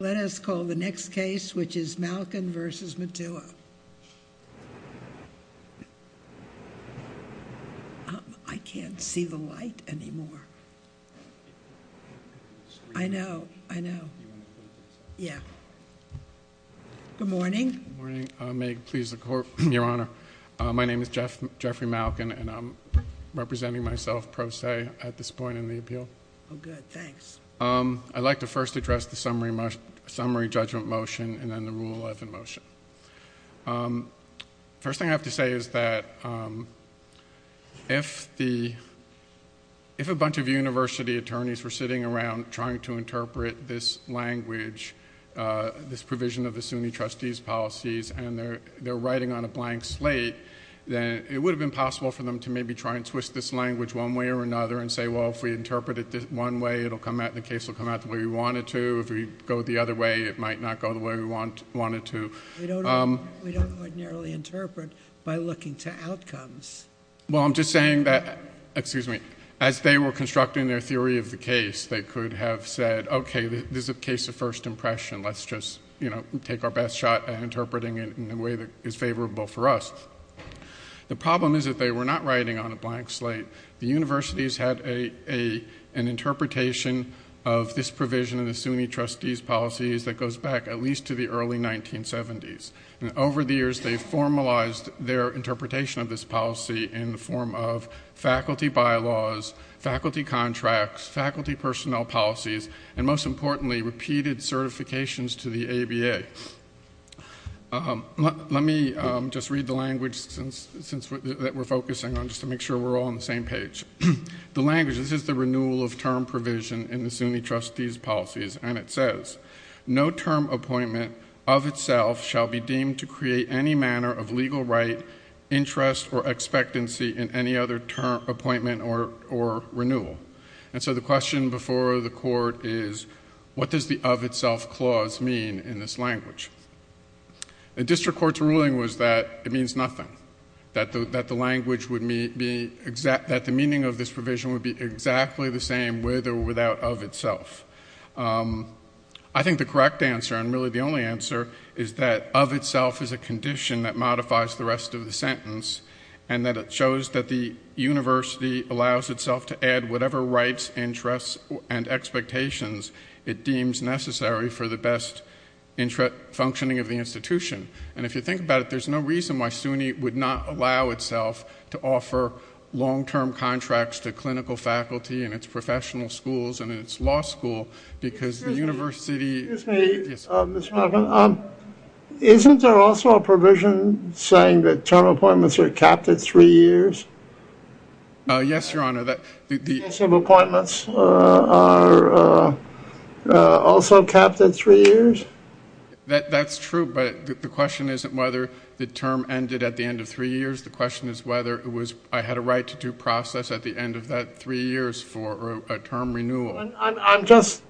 Let us call the next case, which is Malkan v. Mutua. I can't see the light anymore. I know. I know. Yeah. Good morning. Good morning. May it please the Court, Your Honor. My name is Jeffrey Malkan, and I'm representing myself pro se at this point in the appeal. Oh, good. Thanks. I'd like to first address the summary judgment motion and then the rule of the motion. First thing I have to say is that if a bunch of university attorneys were sitting around trying to interpret this language, this provision of the SUNY trustees' policies, and they're writing on a blank slate, then it would have been possible for them to maybe try and twist this language one way or another and say, well, if we interpret it one way, the case will come out the way we want it to. If we go the other way, it might not go the way we want it to. We don't ordinarily interpret by looking to outcomes. Well, I'm just saying that, excuse me, as they were constructing their theory of the case, they could have said, okay, this is a case of first impression. Let's just take our best shot at interpreting it in a way that is favorable for us. The problem is that they were not writing on a blank slate. The universities had an interpretation of this provision of the SUNY trustees' policies that goes back at least to the early 1970s. Over the years, they formalized their interpretation of this policy in the form of faculty bylaws, faculty contracts, faculty personnel policies, and most importantly, repeated certifications to the ABA. Let me just read the language that we're focusing on just to make sure we're all on the same page. The language, this is the renewal of term provision in the SUNY trustees' policies and it says, no term appointment of itself shall be deemed to create any manner of legal right, interest, or expectancy in any other term appointment or renewal. The question before the court is, what does the of itself clause mean in this language? The district court's ruling was that it means nothing, that the language would be exact, that the meaning of this provision would be exactly the same with or without of itself. I think the correct answer and really the only answer is that of itself is a condition that modifies the rest of the sentence and that it shows that the university allows itself to add whatever rights, interests, and expectations it deems necessary for the best functioning of the institution. And if you think about it, there's no reason why SUNY would not allow itself to offer long-term contracts to clinical faculty in its professional schools and in its law school because the university... Isn't there also a provision saying that term appointments are capped at three years? Yes, Your Honor. The appointments are also capped at three years? That's true, but the question isn't whether the term ended at the end of three years. The question is whether I had a right to due process at the end of that three years for a term renewal. I'm just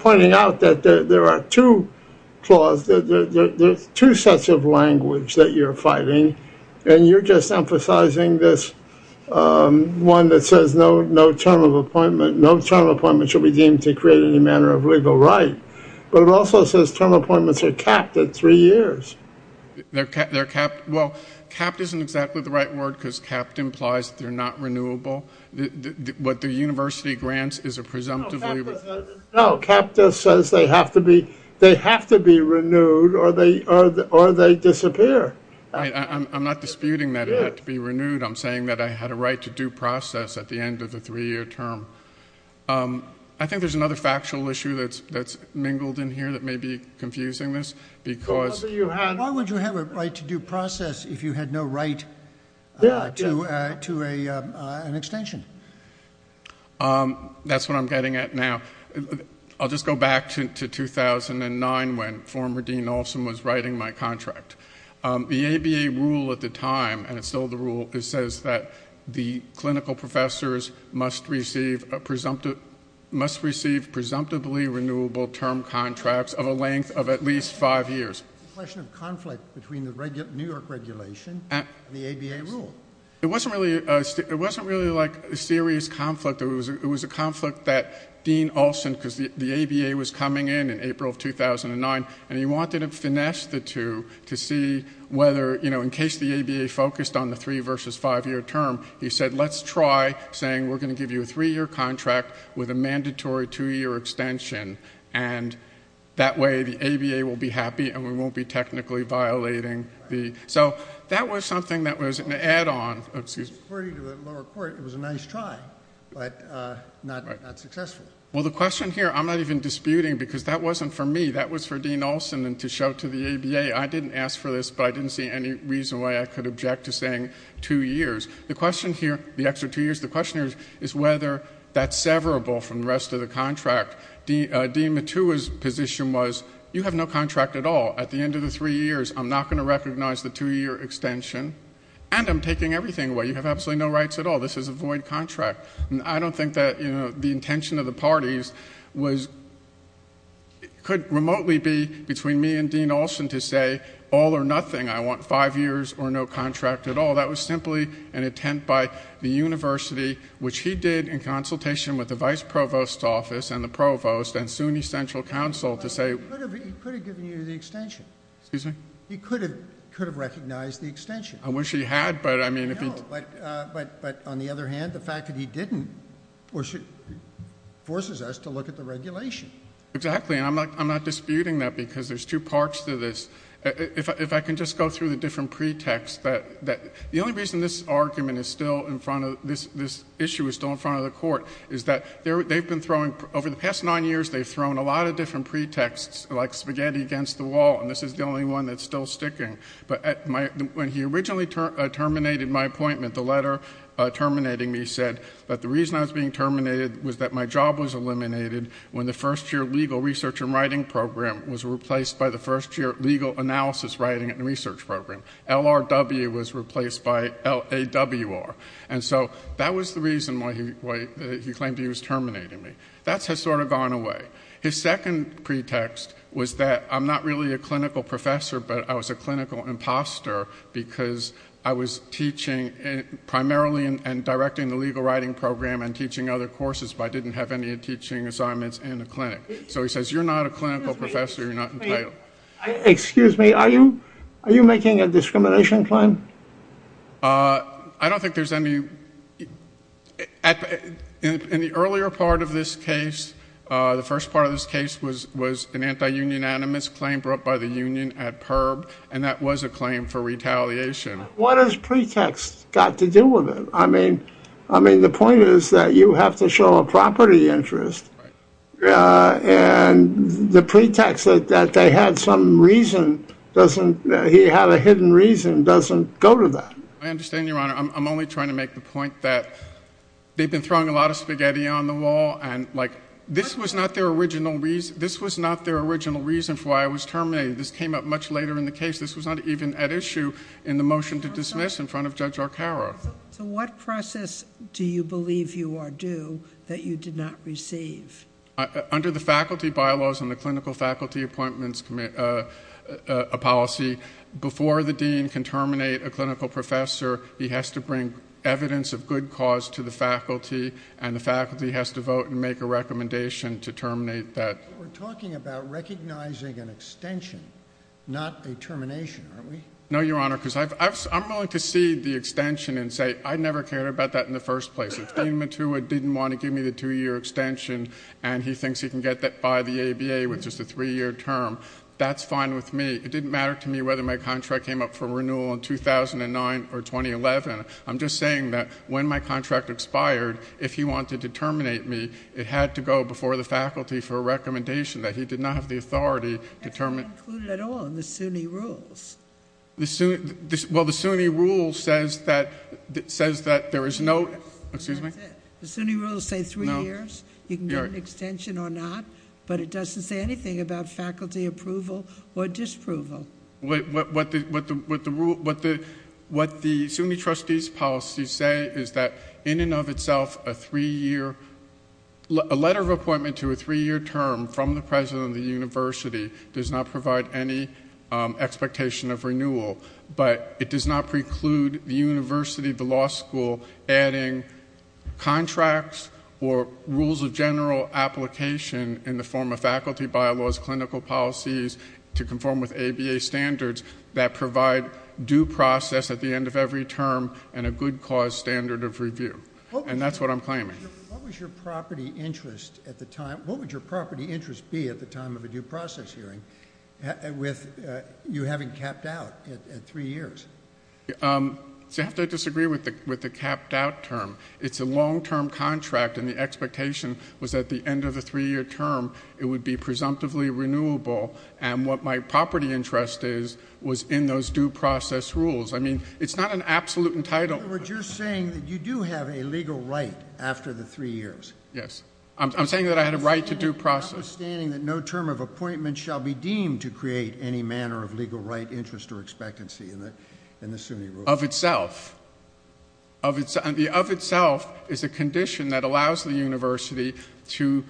pointing out that there are two clauses, there's two sets of language that you're fighting, and you're just emphasizing this one that says no term appointment should be deemed to create any manner of legal right. But it also says term appointments are capped at three years. Well, capped isn't exactly the right word because capped implies that they're not renewable. What the university grants is a presumptive... No, capped just says they have to be renewed or they disappear. I'm not disputing that it had to be renewed. I'm saying that I had a right to due process at the end of the three-year term. I think there's another factual issue that's mingled in here that may be confusing this because... Why would you have a right to due process if you had no right to an extension? That's what I'm getting at now. I'll just go back to 2009 when former Dean Olsen was writing my contract. The ABA rule at the time, and it's still the rule, it says that the clinical professors must receive presumptively renewable term contracts of a length of at least five years. It's a question of conflict between the New York regulation and the ABA rule. It wasn't really a serious conflict. It was a conflict that Dean Olsen, because the ABA was coming in in April of 2009, and he wanted to finesse the two to see whether in case the ABA focused on the three versus five-year term, he said, let's try saying we're going to give you a three-year contract with a mandatory two-year extension. That way the ABA will be happy and we won't be technically violating the... That was something that was an add-on. It was a nice try, but not successful. The question here, I'm not even disputing because that wasn't for me. That was for Dean Olsen to show to the ABA. I didn't ask for this, but I didn't see any reason why I could object to saying two years. The question here, the extra two years, the question here is whether that's severable from the rest of the contract. Dean Matua's position was, you have no contract at all. At the end of the three years, I'm not going to recognize the two-year extension, and I'm taking everything away. You have absolutely no rights at all. This is a void contract. I don't think that the intention of the parties was... It could remotely be between me and Dean Olsen to say, all or nothing, I want five years or no contract at all. That was simply an intent by the university which he did in consultation with the vice provost's office and the provost and SUNY Central Council to say... He could have given you the extension. Excuse me? He could have recognized the extension. I wish he had, but I mean... No, but on the other hand, the fact that he didn't forces us to look at the regulation. Exactly, and I'm not disputing that because there's two parts to this. If I can just go through the different pretexts that... The only reason this argument is still in front of... This issue is still in front of the court is that they've been throwing... Over the past nine years, they've thrown a lot of different pretexts, like spaghetti against the wall, and this is the only one that's still sticking. But when he originally terminated my appointment, the letter terminating me said that the reason I was being terminated was that my job was eliminated when the first year legal research and writing program was replaced by the first year legal analysis writing and research program. LRW was replaced by LAWR, and so that was the reason why he claimed he was terminating me. That has sort of gone away. His second pretext was that I'm not really a clinical professor, but I was a clinical imposter because I was teaching primarily and directing the legal writing program and teaching other courses, but I didn't have any teaching assignments in the clinic. So he says, you're not a clinical professor, you're not entitled. Are you making a discrimination claim? I don't think there's any... In the earlier part of this case, the first part of this case was an anti-union animus claim brought by the union at PERB, and that was a claim for retaliation. What has pretext got to do with it? I mean, the point is that you have to show a property interest and the pretext that they had some reason, he had a hidden reason, doesn't go to that. I understand, Your Honor. I'm only trying to make the point that they've been throwing a lot of spaghetti on the wall, and this was not their original reason for why I was terminated. This came up much later in the case. This was not even at issue in the motion to dismiss in front of Judge Arcaro. So what process do you believe you are due that you did not receive? Under the faculty bylaws and the clinical faculty appointments policy, before the dean can terminate a clinical professor, he has to bring evidence of good cause to the faculty, and the faculty has to vote and make a recommendation to terminate that. We're talking about recognizing an extension, not a termination, aren't we? No, Your Honor, because I'm willing to cede the extension and say I never cared about that in the first place. If Dean Matua didn't want to give me the two-year extension and he thinks he can get that by the ABA with just a three-year term, that's fine with me. It didn't matter to me whether my contract came up for renewal in 2009 or 2011. I'm just saying that when my contract expired, if he wanted to terminate me, it had to go before the faculty for a recommendation that he did not have the authority to terminate. It's not included at all in the SUNY rules. Well, the SUNY rule says that there is no... The SUNY rules say three years. You can get an extension or not, but it doesn't say anything about faculty approval or disapproval. What the SUNY trustees' policies say is that in and of itself, a three-year letter of appointment to a three-year term from the university does not provide any expectation of renewal, but it does not preclude the university, the law school adding contracts or rules of general application in the form of faculty bylaws, clinical policies to conform with ABA standards that provide due process at the end of every term and a good cause standard of review. And that's what I'm claiming. What would your property interest be at the time of a due process hearing with you having capped out at three years? You have to disagree with the capped out term. It's a long-term contract and the expectation was that at the end of the three-year term, it would be presumptively renewable, and what my property interest is was in those due process rules. I mean, it's not an absolute entitlement. In other words, you're saying that you do have a legal right after the three years. Yes. I'm saying that I had a right to due process. Notwithstanding that no term of appointment shall be deemed to create any manner of legal right, interest, or expectancy in the SUNY rules. Of itself. Of itself is a condition that allows the university to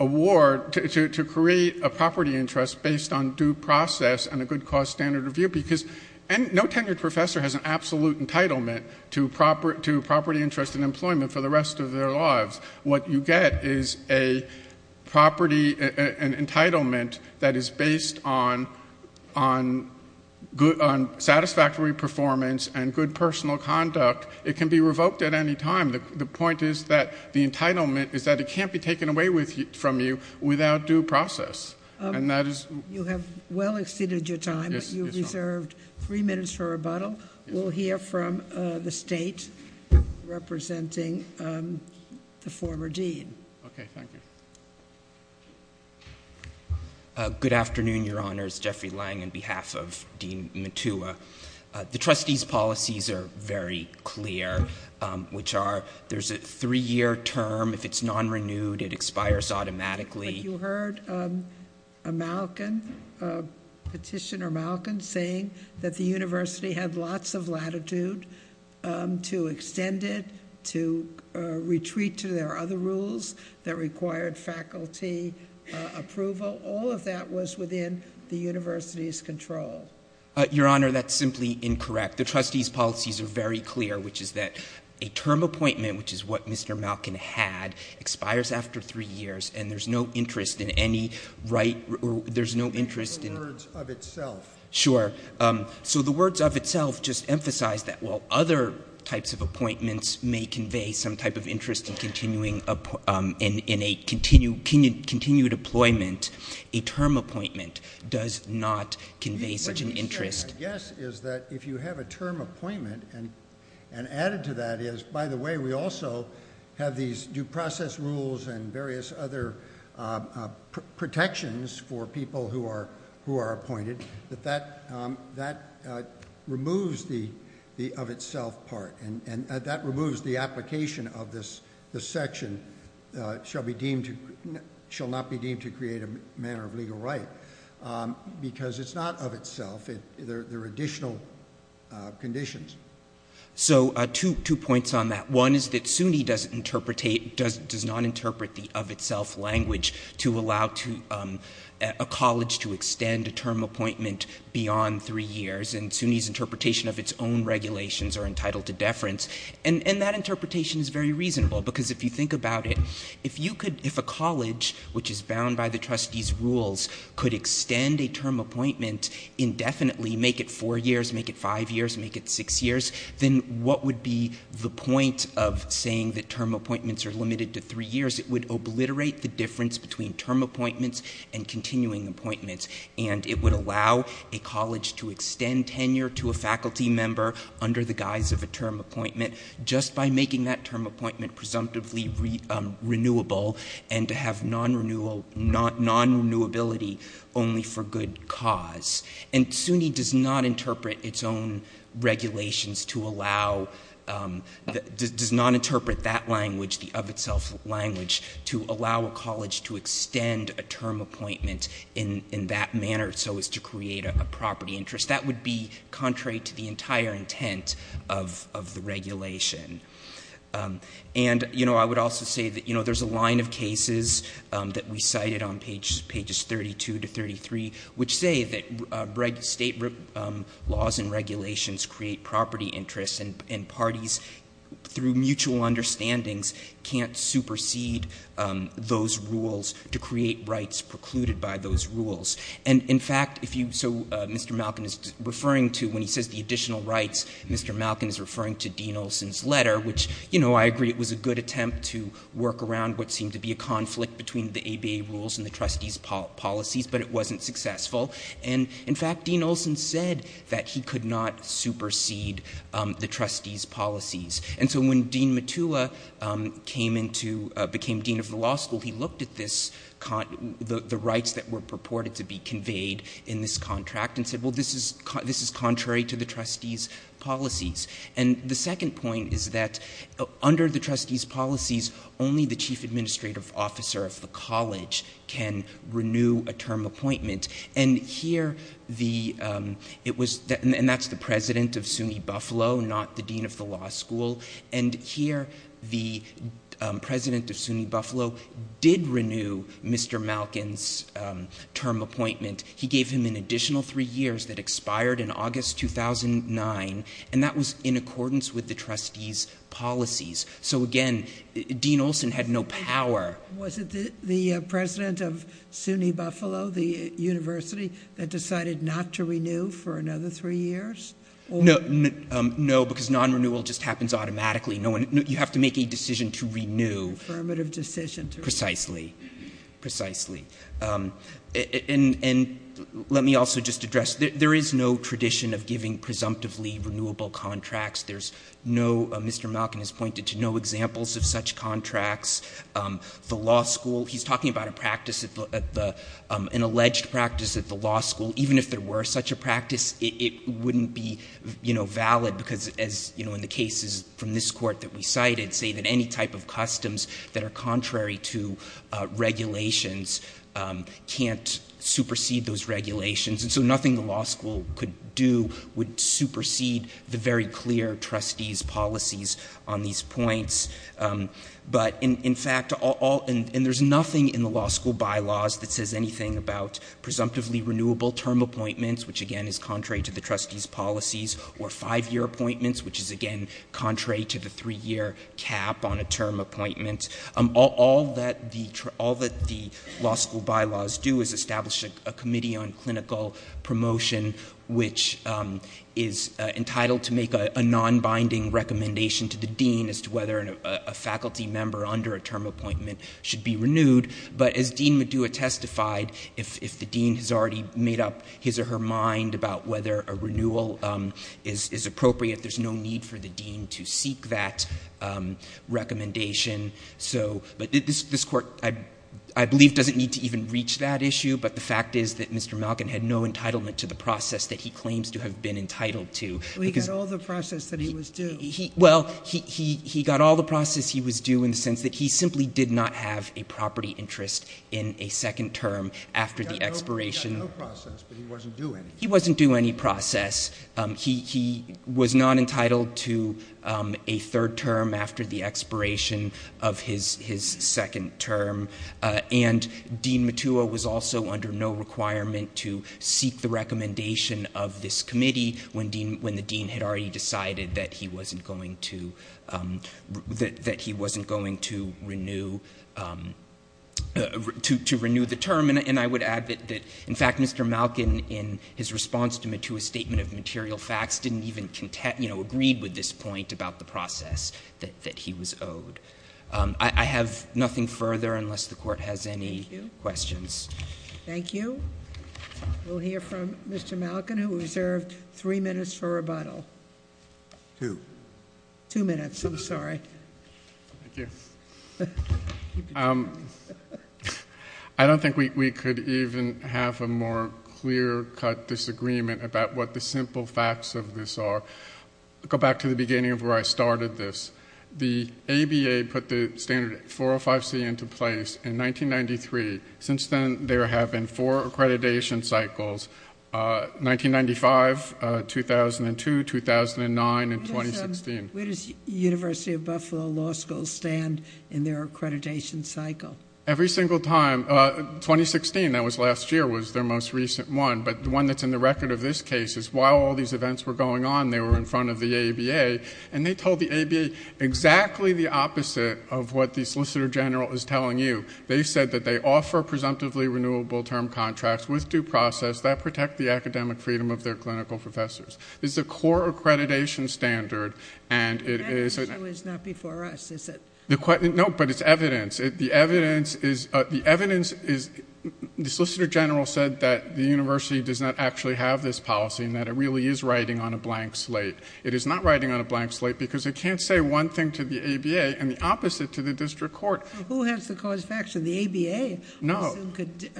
award, to create a property interest based on due process and a good cause standard review because no tenured professor has an absolute entitlement to property interest and employment for the rest of their lives. What you get is a property entitlement that is based on satisfactory performance and good personal conduct. It can be revoked at any time. The point is that the entitlement is that it can't be taken away from you without due process. You have well exceeded your time. You have reserved three minutes for rebuttal. We'll hear from the state representing the former dean. Okay. Thank you. Good afternoon, your honors. Jeffrey Lang on behalf of Dean Matua. The trustee's policies are very clear which are there's a three-year term. If it's non-renewed it expires automatically. But you heard Petitioner Malkin saying that the university had lots of latitude to extend it, to retreat to their other rules that required faculty approval. All of that was within the university's control. Your honor, that's simply incorrect. The trustee's policies are very clear which is that a term appointment which is what Mr. Malkin had expires after three years and there's no interest in any right, there's no interest in... The words of itself. Sure. So the words of itself just emphasize that while other types of appointments may convey some type of interest in continuing, in a continued employment, a term appointment does not convey such an interest. My guess is that if you have a term appointment and added to that is, by the way, we also have these due process rules and various other protections for people who are appointed, that removes the of itself part and that removes the application of this section shall not be deemed to create a manner of legal right because it's not of itself, there are additional conditions. So two points on that. One is that you cannot interpret the of itself language to allow a college to extend a term appointment beyond three years and SUNY's interpretation of its own regulations are entitled to deference and that interpretation is very reasonable because if you think about it, if a college which is bound by the trustee's rules could extend a term appointment indefinitely, make it four years, make it five years, make it six years, then what would be the point of saying that term appointments are limited to three years? It would obliterate the difference between term appointments and continuing appointments and it would allow a college to extend tenure to a faculty member under the guise of a term appointment just by making that term appointment presumptively renewable and to have non-renewability only for good cause. And SUNY does not interpret its own regulations to allow does not interpret that language, the of itself language to allow a college to extend a term appointment in that manner so as to create a property interest. That would be contrary to the entire intent of the regulation. And I would also say that there's a line of cases that we cited on pages 32 to 33 which say that state laws and regulations create property interests and parties through mutual understandings can't supersede those rules to create rights precluded by those rules. And in fact, Mr. Malkin is referring to, when he says the additional rights, Mr. Malkin is referring to Dean Olsen's letter, which I agree it was a good attempt to work around what seemed to be a conflict between the ABA rules and the trustees' policies, but it wasn't successful. And in fact, Dean Olsen said that he could not supersede the trustees' policies. And so when Dean Matua became dean of the law school, he looked at the rights that were purported to be conveyed in this contract and said, well, this is contrary to the trustees' policies. And the second point is that under the trustees' policies, only the chief administrative officer of the college can renew a term appointment. And here the, it was, and that's the president of SUNY Buffalo, not the dean of the law school. And here the president of SUNY Buffalo did renew Mr. Malkin's term appointment. He gave him an additional three years that expired in August 2009, and that was in accordance with the trustees' policies. So again, Dean Olsen had no power. Was it the president of SUNY Buffalo, the university, that decided not to renew for another three years? No, because non-renewal just happens automatically. You have to make a decision to renew. Affirmative decision to renew. Precisely. And let me also just address, there is no tradition of giving presumptively renewable contracts. There's no, Mr. Malkin has pointed to no examples of such contracts. The law school, he's talking about a practice at the, an alleged practice at the law school, even if there were such a practice, it wouldn't be, you know, valid because as, you know, in the cases from this court that we cited, say that any type of customs that are contrary to regulations can't supersede those regulations. And so nothing the law school could do would supersede the very clear trustees' policies on these points. But in fact, all, and there's nothing in the law school bylaws that says anything about presumptively renewable term appointments, which again is contrary to the trustees' policies, or five-year appointments, which is again contrary to the three-year cap on a term appointment. All that the law school bylaws do is establish a committee on clinical promotion which is entitled to make a non-binding recommendation to the dean as to whether a faculty member under a term appointment should be renewed. But as Dean Medua testified, if the dean has already made up his or her mind about whether a renewal is appropriate, there's no need for the dean to seek that recommendation. So, but this court, I believe, doesn't need to even reach that issue, but the fact is that Mr. Malkin had no entitlement to the process that he claims to have been entitled to. We got all the process that he was due. Well, he got all the process he was due in the sense that he simply did not have a property interest in a second term after the expiration. He got no process, but he wasn't due any. He wasn't due any process. He was not entitled to a third term after the expiration of his second term. And Dean Medua was also under no requirement to seek the recommendation of this committee when the dean had already decided that he wasn't going to renew the term. And I would add that, in fact, Mr. Malkin, in his response to Medua's statement of material facts, didn't even agree with this point about the process that he was owed. I have nothing further unless the court has any questions. Thank you. We'll hear from Mr. Malkin, who reserved three minutes for rebuttal. Two. Two minutes, I'm sorry. Thank you. I don't think we could even have a more clear-cut disagreement about what the simple facts of this are. Go back to the beginning of where I started this. The ABA put the standard 405C into place in 1993. Since then, there have been four accreditation cycles. 1995, 2002, 2009, and 2016. Where does University of Buffalo Law School stand in their accreditation cycle? Every single time. 2016, that was last year, was their most recent one. But the one that's in the record of this case is, while all these events were going on, they were in front of the ABA. And they told the ABA exactly the opposite of what the Solicitor General is telling you. They said that they offer presumptively renewable term contracts with due process that protect the academic freedom of their clinical professors. This is a core accreditation standard. That issue is not before us, is it? No, but it's evidence. The evidence is, the Solicitor General said that the university does not actually have this policy and that it really is writing on a blank slate. It is not writing on a blank slate because it can't say one thing to the ABA and the opposite to the district court. Who has the cause of action? The ABA could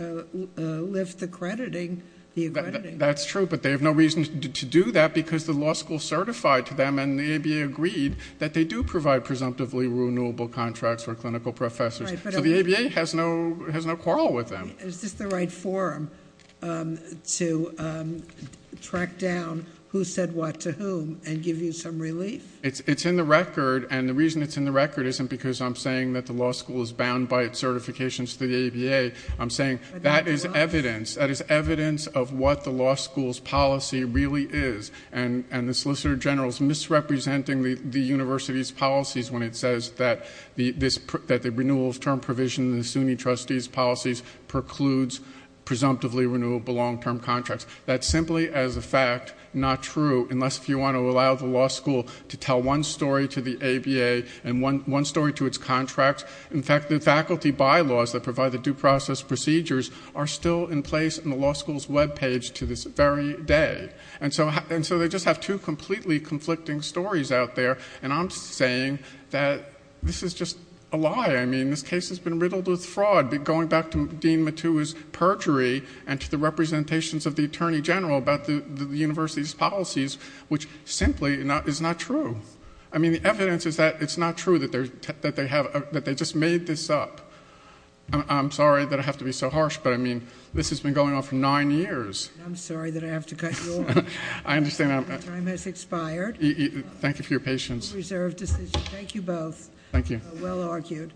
lift the accrediting. That's true, but they have no reason to do that because the law school certified to them and the ABA agreed that they do provide presumptively renewable contracts for clinical professors. So the ABA has no quarrel with them. Is this the right forum to track down who said what to whom and give you some evidence? The reason it's in the record isn't because I'm saying that the law school is bound by its certifications to the ABA. I'm saying that is evidence. That is evidence of what the law school's policy really is and the Solicitor General is misrepresenting the university's policies when it says that the renewal of term provision in the SUNY trustees' policies precludes presumptively renewable long-term contracts. That's simply as a fact not true unless if you want to allow the law school to tell one story to the ABA and one story to its contracts. In fact, the faculty bylaws that provide the due process procedures are still in place in the law school's webpage to this very day. And so they just have two completely conflicting stories out there and I'm saying that this is just a lie. I mean, this case has been riddled with fraud. Going back to Dean Matua's perjury and to the representations of the Attorney General about the university's policies which simply is not true. I mean, the evidence is that it's not true that they just made this up. I'm sorry that I have to be so harsh, but I mean, this has been going on for nine years. I'm sorry that I have to cut you off. My time has expired. Thank you for your patience. Reserve decision. Thank you both. Thank you. Well argued.